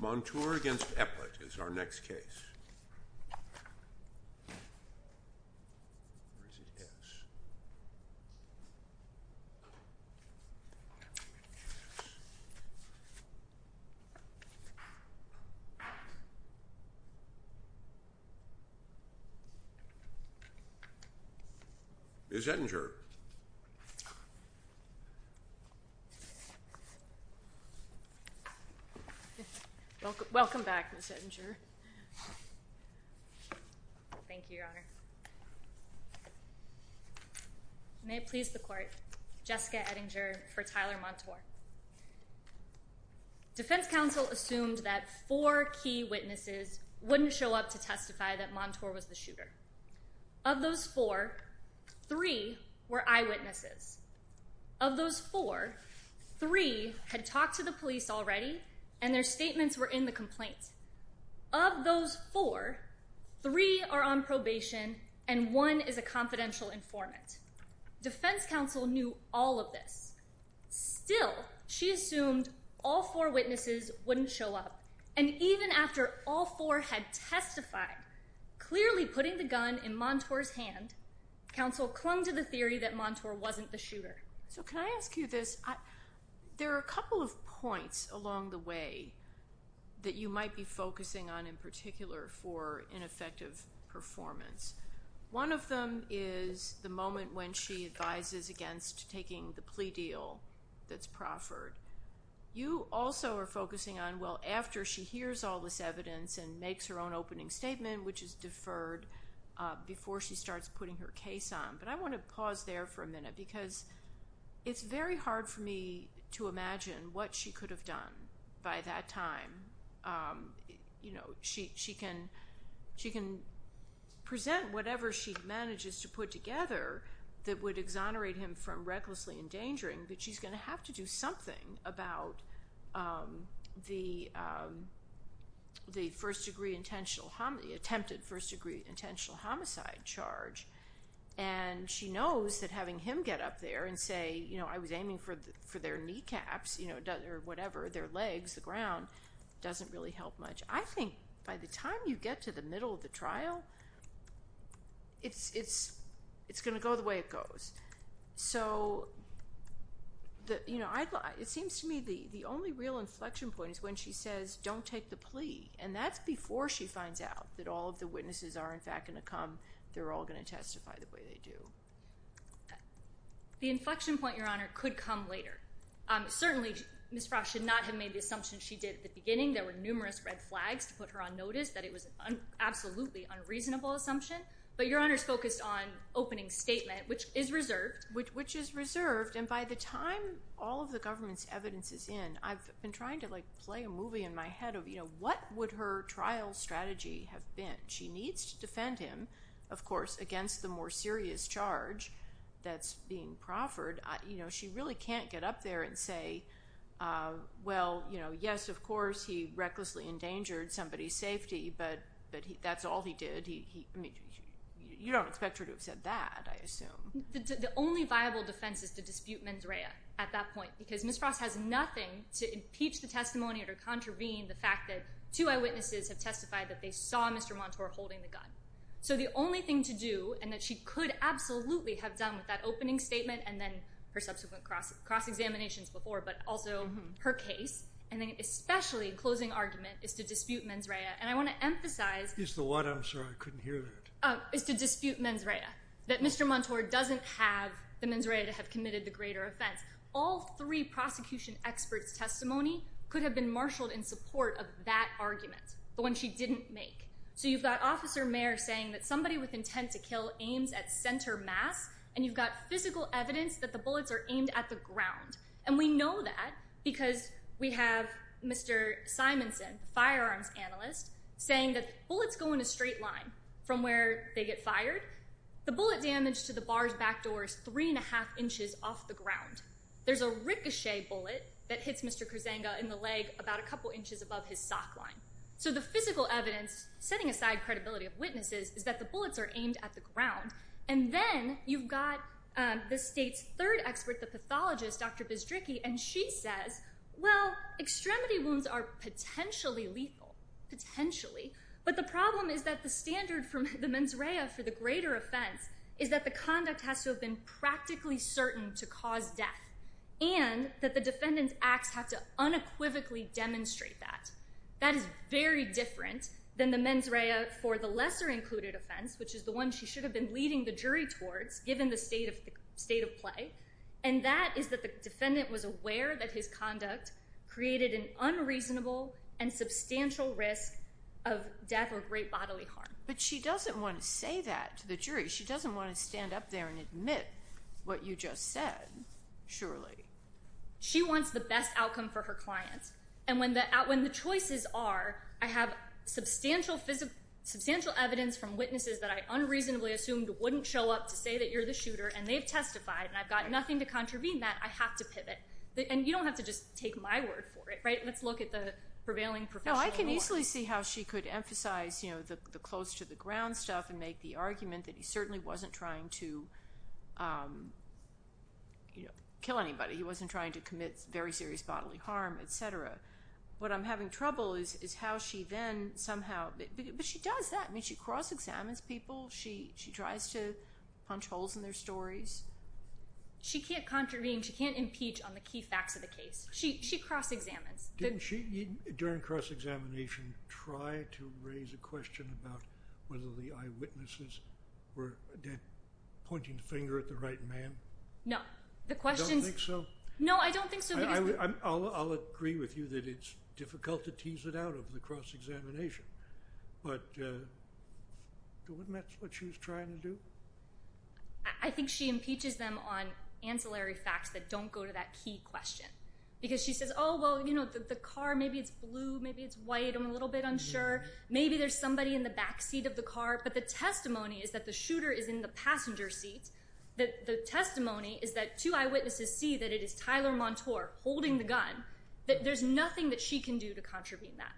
Montour v. Eplett is our next case. Ms. Edinger. Welcome back, Ms. Edinger. Thank you, Your Honor. May it please the Court, Jessica Edinger for Tyler Montour. Defense counsel assumed that four key witnesses wouldn't show up to testify that Montour was the shooter. Of those four, three were eyewitnesses. Of those four, three had talked to the police already and their statements were in the complaint. Of those four, three are on probation and one is a confidential informant. Defense counsel knew all of this. Still, she assumed all four witnesses wouldn't show up. And even after all four had testified, clearly putting the gun in Montour's hand, counsel clung to the theory that Montour wasn't the shooter. So can I ask you this? There are a couple of points along the way that you might be focusing on in particular for ineffective performance. One of them is the moment when she advises against taking the plea deal that's proffered. You also are focusing on, well, after she hears all this evidence and makes her own opening statement, which is deferred before she starts putting her case on. But I want to pause there for a minute because it's very hard for me to imagine what she could have done by that time. You know, she can present whatever she manages to put together that would exonerate him from knowing about the attempted first-degree intentional homicide charge. And she knows that having him get up there and say, you know, I was aiming for their kneecaps or whatever, their legs, the ground, doesn't really help much. I think by the time you get to the middle of the trial, it's going to go the way it goes. So, you know, it seems to me the only real inflection point is when she says, don't take the plea. And that's before she finds out that all of the witnesses are, in fact, going to come. They're all going to testify the way they do. The inflection point, Your Honor, could come later. Certainly, Ms. Frost should not have made the assumption she did at the beginning. There were numerous red flags to put her on notice that it was an absolutely unreasonable assumption. But Your Honor's focused on opening statement, which is reserved. Which is reserved. And by the time all of the government's evidence is in, I've been trying to, like, play a movie in my head of, you know, what would her trial strategy have been? She needs to defend him, of course, against the more serious charge that's being proffered. You know, she really can't get up there and say, well, you know, yes, of course, he recklessly endangered somebody's safety, but that's all he did. You don't expect her to have said that, I assume. The only viable defense is to dispute mens rea at that point. Because Ms. Frost has nothing to impeach the testimony or to contravene the fact that two eyewitnesses have testified that they saw Mr. Montour holding the gun. So the only thing to do, and that she could absolutely have done with that opening statement and then her subsequent cross-examinations before, but also her case, and then especially in closing argument, is to dispute mens rea. And I want to emphasize... Is the what? I'm sorry. I couldn't hear that. Is to dispute mens rea. That Mr. Montour doesn't have the mens rea to have committed the greater offense. All three prosecution experts' testimony could have been marshaled in support of that argument, the one she didn't make. So you've got Officer Mayer saying that somebody with intent to kill aims at center mass, and you've got physical evidence that the bullets are aimed at the ground. And we know that because we have Mr. Simonson, the firearms analyst, saying that bullets go in a straight line from where they get fired. The bullet damage to the bar's back door is three and a half inches off the ground. There's a ricochet bullet that hits Mr. Kurzenga in the leg about a couple inches above his sock line. So the physical evidence, setting aside credibility of witnesses, is that the bullets are aimed at the ground. And then you've got the state's third expert, the pathologist, Dr. Bzdricki, and she says, well, extremity wounds are potentially lethal. Potentially. But the problem is that the standard for the mens rea for the greater offense is that the conduct has to have been practically certain to cause death, and that the defendant's acts have to unequivocally demonstrate that. That is very different than the mens rea for the lesser included offense, which is the one she should have been leading the jury towards, given the state of play. And that is that the defendant was aware that his conduct created an unreasonable and substantial risk of death or great bodily harm. But she doesn't want to say that to the jury. She doesn't want to stand up there and admit what you just said, surely. She wants the best outcome for her clients. And when the choices are, I have substantial evidence from witnesses that I unreasonably assumed wouldn't show up to say that you're the shooter, and they've testified, and I've got nothing to contravene that, I have to pivot. And you don't have to just take my word for it, right? Let's look at the prevailing professional law. No, I can easily see how she could emphasize the close to the ground stuff and make the argument that he certainly wasn't trying to kill anybody. He wasn't trying to commit very serious bodily harm, et cetera. What I'm having trouble is how she then somehow, but she does that. I mean, she cross-examines people. She tries to punch holes in their stories. She can't contravene. She can't impeach on the key facts of the case. She cross-examines. Didn't she, during cross-examination, try to raise a question about whether the eyewitnesses were pointing the finger at the right man? No. Don't think so? No, I don't think so. I'll agree with you that it's difficult to tease it out of the cross-examination, but isn't that what she was trying to do? I think she impeaches them on ancillary facts that don't go to that key question, because she says, oh, well, you know, the car, maybe it's blue, maybe it's white, I'm a little bit unsure. Maybe there's somebody in the back seat of the car, but the testimony is that the shooter is in the passenger seat. The testimony is that two eyewitnesses see that it is Tyler Montour holding the gun, that there's nothing that she can do to contravene that.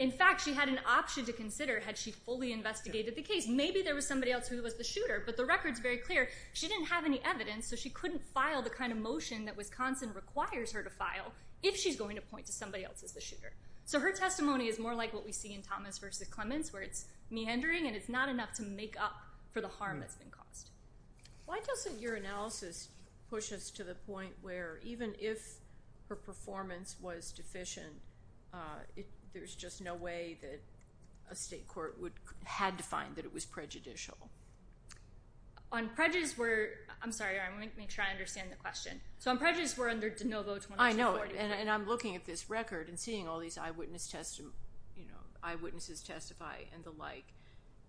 In fact, she had an option to consider had she fully investigated the case. Maybe there was somebody else who was the shooter, but the record's very clear. She didn't have any evidence, so she couldn't file the kind of motion that Wisconsin requires her to file if she's going to point to somebody else as the shooter. So her testimony is more like what we see in Thomas v. Clements, where it's meandering and it's not enough to make up for the harm that's been caused. Why doesn't your analysis push us to the point where even if her performance was deficient, there's just no way that a state court would, had to find that it was prejudicial? On prejudice, we're, I'm sorry, I want to make sure I understand the question. So on prejudice, we're under De Novo 2240. I know, and I'm looking at this record and seeing all these eyewitness testimony, you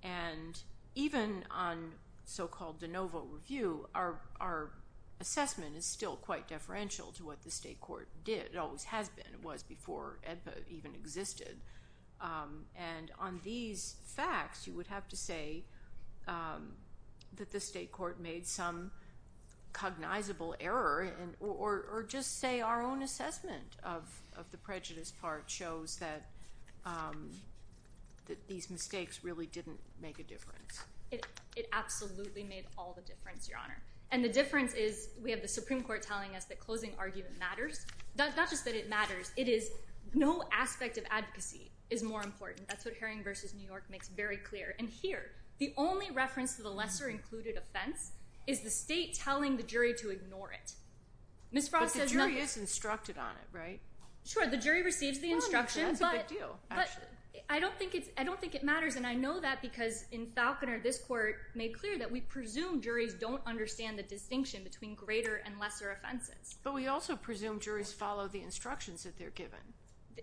And even on so-called De Novo review, our assessment is still quite deferential to what the state court did. It always has been. It was before AEDPA even existed. And on these facts, you would have to say that the state court made some cognizable error or just say our own assessment of the prejudice part shows that these mistakes really didn't make a difference. It absolutely made all the difference, Your Honor. And the difference is we have the Supreme Court telling us that closing argument matters. Not just that it matters, it is no aspect of advocacy is more important. That's what Haring v. New York makes very clear. And here, the only reference to the lesser included offense is the state telling the jury to ignore it. Ms. Frost says nothing. But the jury is instructed on it, right? Sure, the jury receives the instruction. Well, that's a big deal, actually. I don't think it matters. And I know that because in Falconer, this court made clear that we presume juries don't understand the distinction between greater and lesser offenses. But we also presume juries follow the instructions that they're given.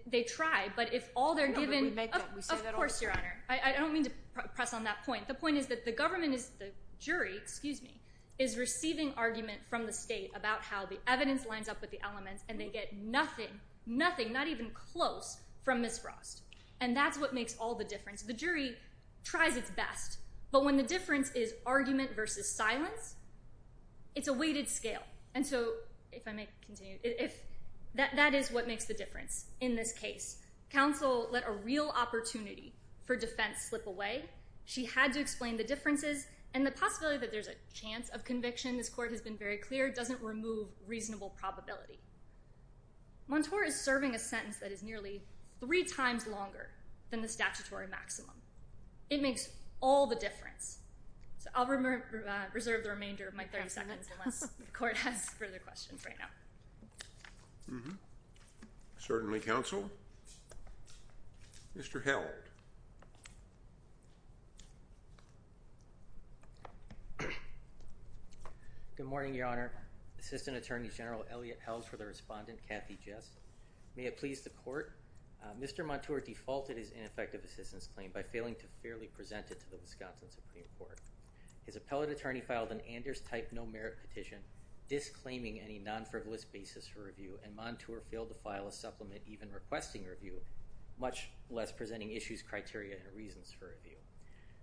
They try. But if all they're given— No, but we make that. We say that all the time. Of course, Your Honor. I don't mean to press on that point. The point is that the government is—the jury, excuse me—is receiving argument from the state about how the evidence lines up with the elements, and they get nothing, nothing, not even close from Ms. Frost. And that's what makes all the difference. The jury tries its best. But when the difference is argument versus silence, it's a weighted scale. And so, if I may continue, that is what makes the difference in this case. Counsel let a real opportunity for defense slip away. She had to explain the differences. And the possibility that there's a chance of conviction, this court has been very clear, doesn't remove reasonable probability. Montour is serving a sentence that is nearly three times longer than the statutory maximum. It makes all the difference. So I'll reserve the remainder of my 30 seconds, unless the court has further questions right now. Certainly, counsel. Mr. Held. Good morning, Your Honor. Assistant Attorney General Elliot Held for the respondent, Kathy Jess. May it please the court. Mr. Montour defaulted his ineffective assistance claim by failing to fairly present it to the Wisconsin Supreme Court. His appellate attorney filed an Anders-type no-merit petition disclaiming any non-frivolous basis for review, and Montour failed to file a supplement even requesting review, much less presenting issues, criteria, and reasons for review.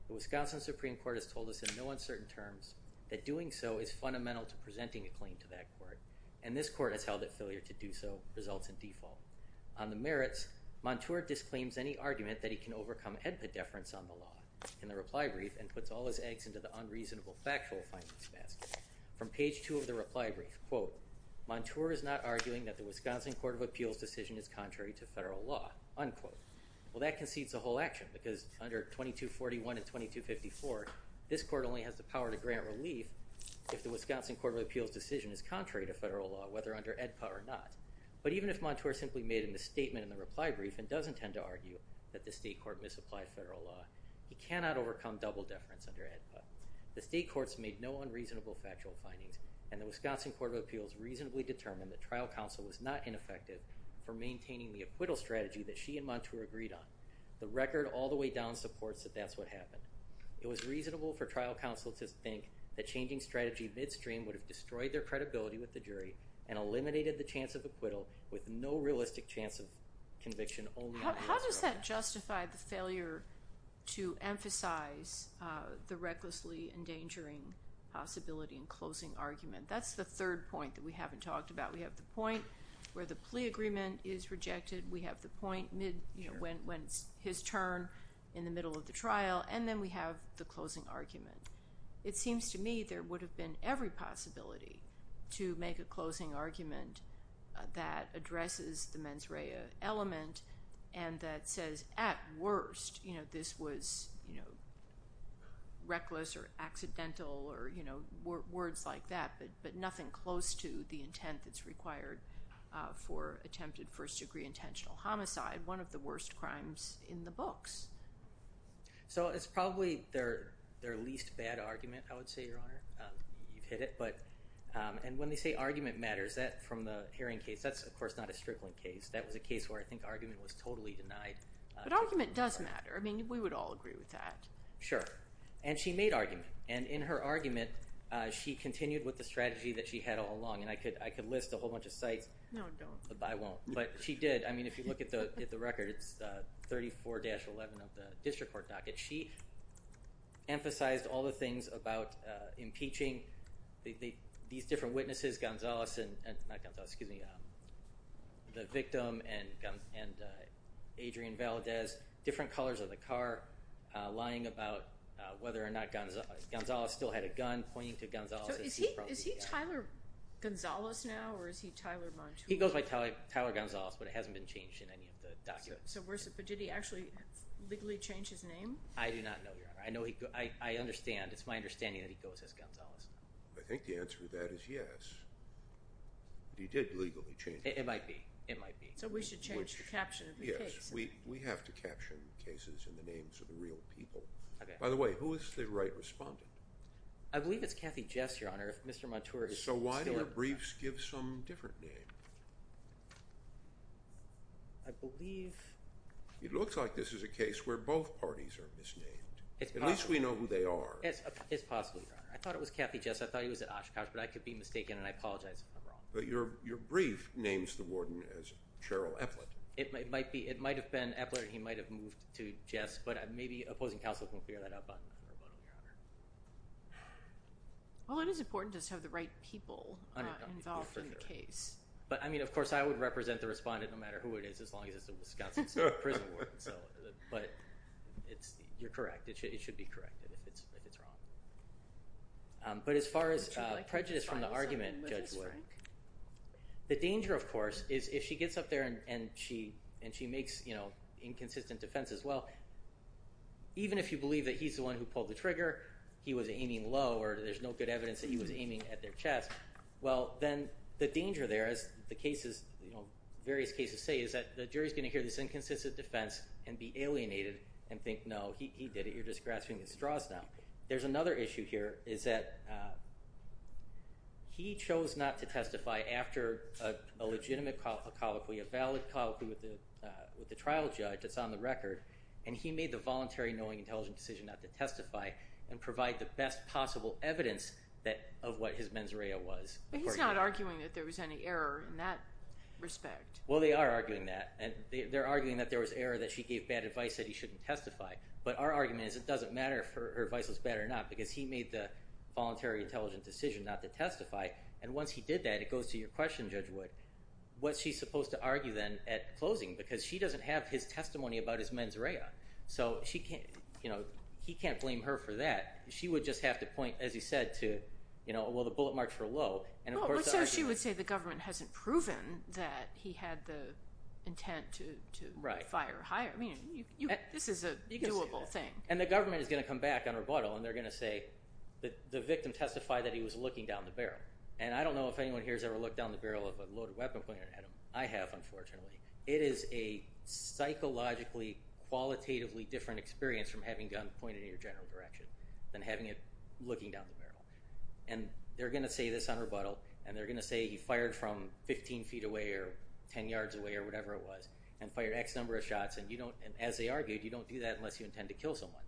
The Wisconsin Supreme Court has told us in no uncertain terms that doing so is fundamental to presenting a claim to that court, and this court has held that failure to do so results in default. On the merits, Montour disclaims any argument that he can overcome HEDPA deference on the law in the reply brief and puts all his eggs into the unreasonable factual finance basket. From page two of the reply brief, quote, Montour is not arguing that the Wisconsin Court of Appeals decision is contrary to federal law, unquote. Well, that concedes the whole action, because under 2241 and 2254, this court only has the Wisconsin Court of Appeals decision is contrary to federal law, whether under HEDPA or not. But even if Montour simply made a misstatement in the reply brief and doesn't tend to argue that the state court misapplied federal law, he cannot overcome double deference under HEDPA. The state courts made no unreasonable factual findings, and the Wisconsin Court of Appeals reasonably determined that trial counsel was not ineffective for maintaining the acquittal strategy that she and Montour agreed on. The record all the way down supports that that's what happened. It was reasonable for trial counsel to think that changing strategy midstream would have destroyed their credibility with the jury and eliminated the chance of acquittal with no realistic chance of conviction. How does that justify the failure to emphasize the recklessly endangering possibility in closing argument? That's the third point that we haven't talked about. We have the point where the plea agreement is rejected. We have the point when it's his turn in the middle of the trial, and then we have the closing argument. It seems to me there would have been every possibility to make a closing argument that addresses the mens rea element and that says, at worst, this was reckless or accidental or words like that, but nothing close to the intent that's required for attempted first degree intentional homicide, one of the worst crimes in the books. It's probably their least bad argument, I would say, Your Honor. You've hit it. When they say argument matters, that from the hearing case, that's of course not a strickling case. That was a case where I think argument was totally denied. But argument does matter. We would all agree with that. Sure. She made argument. In her argument, she continued with the strategy that she had all along. I could list a whole bunch of sites. No, don't. I won't. But she did. I mean, if you look at the record, it's 34-11 of the district court docket. She emphasized all the things about impeaching. These different witnesses, Gonzales, excuse me, the victim and Adrian Valadez, different colors of the car, lying about whether or not Gonzales still had a gun, pointing to Gonzales. Is he Tyler Gonzales now or is he Tyler Montoya? He goes by Tyler Gonzales, but it hasn't been changed in any of the documents. So did he actually legally change his name? I do not know, Your Honor. I understand. It's my understanding that he goes as Gonzales. I think the answer to that is yes. But he did legally change it. It might be. It might be. So we should change the caption of the case. Yes. We have to caption cases in the names of the real people. By the way, who is the right respondent? I believe it's Kathy Jess, Your Honor. If Mr. Montoya is... So why do our briefs give some different name? I believe... It looks like this is a case where both parties are misnamed. At least we know who they are. It's possible, Your Honor. I thought it was Kathy Jess. I thought he was at Oshkosh. But I could be mistaken and I apologize if I'm wrong. But your brief names the warden as Cheryl Epplett. It might be. It might have been Epplett and he might have moved to Jess. But maybe opposing counsel can figure that out, Your Honor. Well, it is important to have the right people involved in the case. But, I mean, of course, I would represent the respondent no matter who it is as long as it's a Wisconsin State Prison Warden. But you're correct. It should be corrected if it's wrong. But as far as prejudice from the argument, Judge Wood, the danger, of course, is if she gets up there and she makes inconsistent defense as well, even if you believe that he's the one who pulled the trigger, he was aiming low or there's no good evidence that he was aiming at their chest, well, then the danger there, as the cases, various cases say, is that the jury is going to hear this inconsistent defense and be alienated and think, no, he did it. You're just grasping at straws now. There's another issue here is that he chose not to testify after a legitimate colloquy, a valid colloquy with the trial judge that's on the record, and he made the voluntary knowing intelligent decision not to testify and provide the best possible evidence of what his mens rea was. But he's not arguing that there was any error in that respect. Well, they are arguing that. They're arguing that there was error, that she gave bad advice, that he shouldn't testify. But our argument is it doesn't matter if her advice was bad or not because he made the voluntary intelligent decision not to testify. And once he did that, it goes to your question, Judge Wood, what's she supposed to argue then at closing? Because she doesn't have his testimony about his mens rea. So he can't blame her for that. She would just have to point, as you said, to, well, the bullet marks were low. So she would say the government hasn't proven that he had the intent to fire. I mean, this is a doable thing. And the government is going to come back on rebuttal, and they're going to say the victim testified that he was looking down the barrel. And I don't know if anyone here has ever looked down the barrel of a loaded weapon and pointed at him. I have, unfortunately. It is a psychologically, qualitatively different experience from having a gun pointed in your general direction than having it looking down the barrel. And they're going to say this on rebuttal, and they're going to say he fired from 15 feet away or 10 yards away or whatever it was and fired X number of shots. And as they argued, you don't do that unless you intend to kill someone.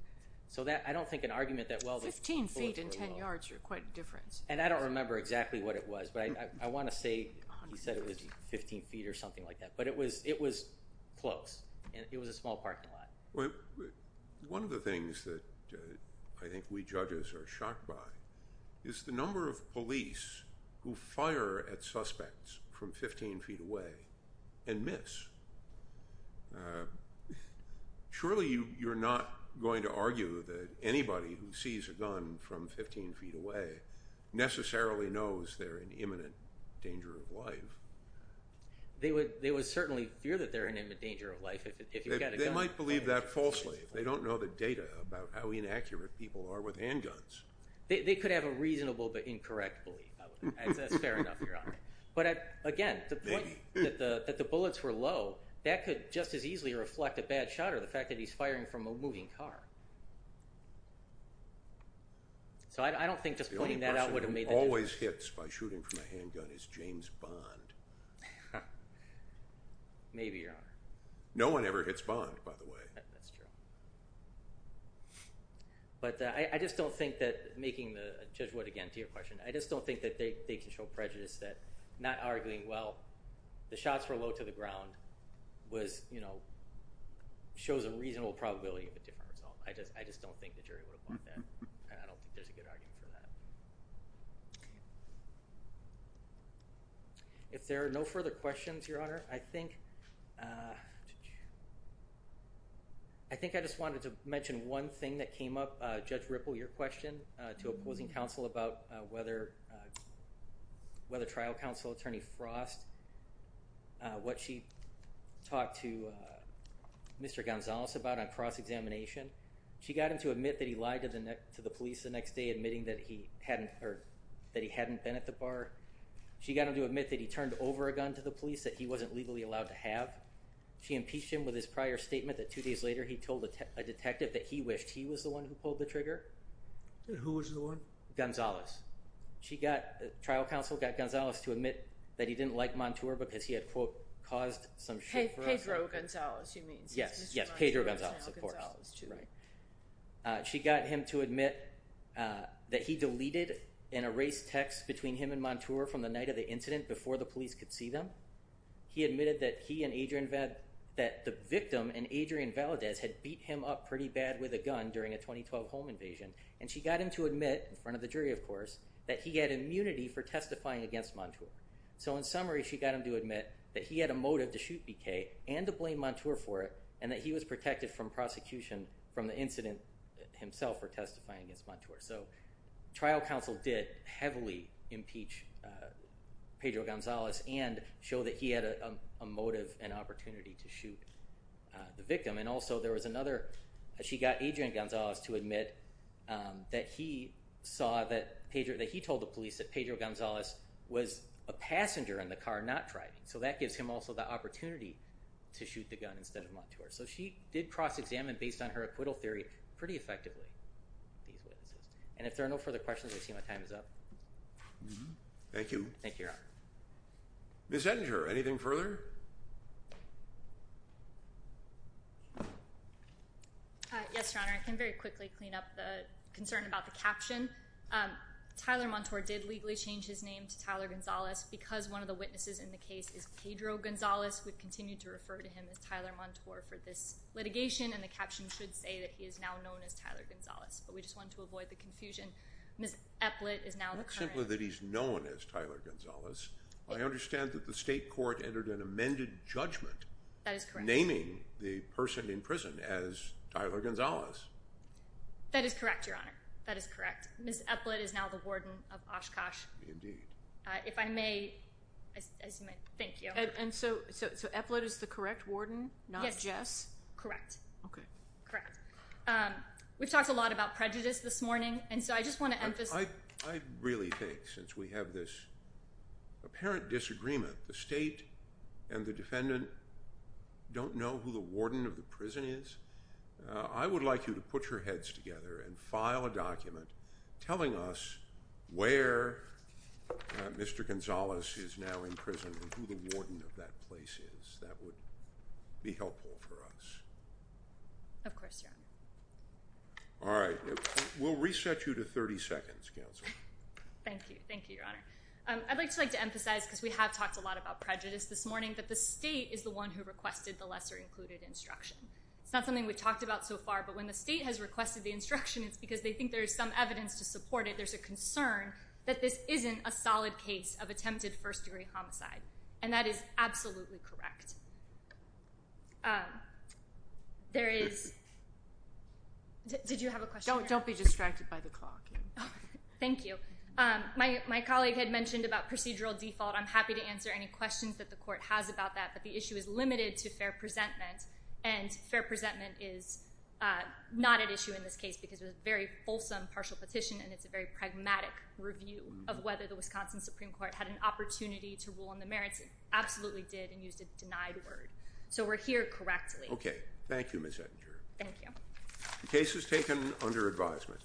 So I don't think an argument that, well, the bullet marks were low. Fifteen feet and 10 yards are quite a difference. And I don't remember exactly what it was. But I want to say he said it was 15 feet or something like that. But it was close. It was a small parking lot. One of the things that I think we judges are shocked by is the number of police who fire at suspects from 15 feet away and miss. Surely you're not going to argue that anybody who sees a gun from 15 feet away necessarily knows they're in imminent danger of life. They would certainly fear that they're in imminent danger of life if you've got a gun. They might believe that falsely if they don't know the data about how inaccurate people are with handguns. They could have a reasonable but incorrect belief. That's fair enough, Your Honor. But, again, the point that the bullets were low, that could just as easily reflect a bad shot or the fact that he's firing from a moving car. So I don't think just pointing that out would have made the difference. The only person who always hits by shooting from a handgun is James Bond. Maybe, Your Honor. No one ever hits Bond, by the way. That's true. But I just don't think that making the judgment, again, to your question, I just don't think that they can show prejudice that not arguing, well, the shots were low to the ground, shows a reasonable probability of a different result. I just don't think the jury would have bought that, and I don't think there's a good argument for that. If there are no further questions, Your Honor, I think I just wanted to mention one thing that came up, Judge Ripple, your question to opposing counsel about whether trial counsel, Attorney Frost, what she talked to Mr. Gonzalez about on cross-examination. She got him to admit that he lied to the police the next day, admitting that he hadn't been at the bar. She got him to admit that he turned over a gun to the police that he wasn't legally allowed to have. She impeached him with his prior statement that two days later he told a detective that he wished he was the one who pulled the trigger. Who was the one? Gonzalez. Trial counsel got Gonzalez to admit that he didn't like Montour because he had, quote, caused some shit for her. Pedro Gonzalez, she means. Yes, yes, Pedro Gonzalez, of course. She got him to admit that he deleted and erased texts between him and Montour from the night of the incident before the police could see them. He admitted that he and Adrian Valadez, that the victim and Adrian Valadez had beat him up pretty bad with a gun during a 2012 home invasion. And she got him to admit in front of the jury, of course, that he had immunity for testifying against Montour. So in summary, she got him to admit that he had a motive to shoot BK and to blame Montour for it and that he was protected from prosecution from the incident himself for testifying against Montour. So trial counsel did heavily impeach Pedro Gonzalez and also there was another. She got Adrian Gonzalez to admit that he saw that Pedro, that he told the police that Pedro Gonzalez was a passenger in the car, not driving. So that gives him also the opportunity to shoot the gun instead of Montour. So she did cross-examine based on her acquittal theory pretty effectively. And if there are no further questions, I see my time is up. Thank you. Thank you, Your Honor. Ms. Edinger, anything further? Yes, Your Honor. I can very quickly clean up the concern about the caption. Tyler Montour did legally change his name to Tyler Gonzalez because one of the witnesses in the case is Pedro Gonzalez. We've continued to refer to him as Tyler Montour for this litigation, and the caption should say that he is now known as Tyler Gonzalez. But we just wanted to avoid the confusion. Ms. Epplett is now the current. Not simply that he's known as Tyler Gonzalez. I understand that the state court entered an amended judgment. That is correct. Naming the person in prison as Tyler Gonzalez. That is correct, Your Honor. That is correct. Ms. Epplett is now the warden of Oshkosh. Indeed. If I may, thank you. So Epplett is the correct warden, not Jess? Correct. Okay. Correct. We've talked a lot about prejudice this morning, and so I just want to emphasize. I really think since we have this apparent disagreement, the state and the defendant don't know who the warden of the prison is, I would like you to put your heads together and file a document telling us where Mr. Gonzalez is now in prison and who the warden of that place is. That would be helpful for us. Of course, Your Honor. All right. We'll reset you to 30 seconds, counsel. Thank you. Thank you, Your Honor. I'd like to emphasize, because we have talked a lot about prejudice this morning, that the state is the one who requested the lesser-included instruction. It's not something we've talked about so far, but when the state has requested the instruction, it's because they think there's some evidence to support it. There's a concern that this isn't a solid case of attempted first-degree homicide, and that is absolutely correct. There is – did you have a question? Don't be distracted by the clock. Thank you. My colleague had mentioned about procedural default. I'm happy to answer any questions that the court has about that, but the issue is limited to fair presentment, and fair presentment is not at issue in this case because it was a very fulsome partial petition, and it's a very pragmatic review of whether the Wisconsin Supreme Court had an opportunity to rule on the merits. It absolutely did and used a denied word. So we're here correctly. Okay. Thank you, Ms. Ettinger. Thank you. The case was taken under advisement.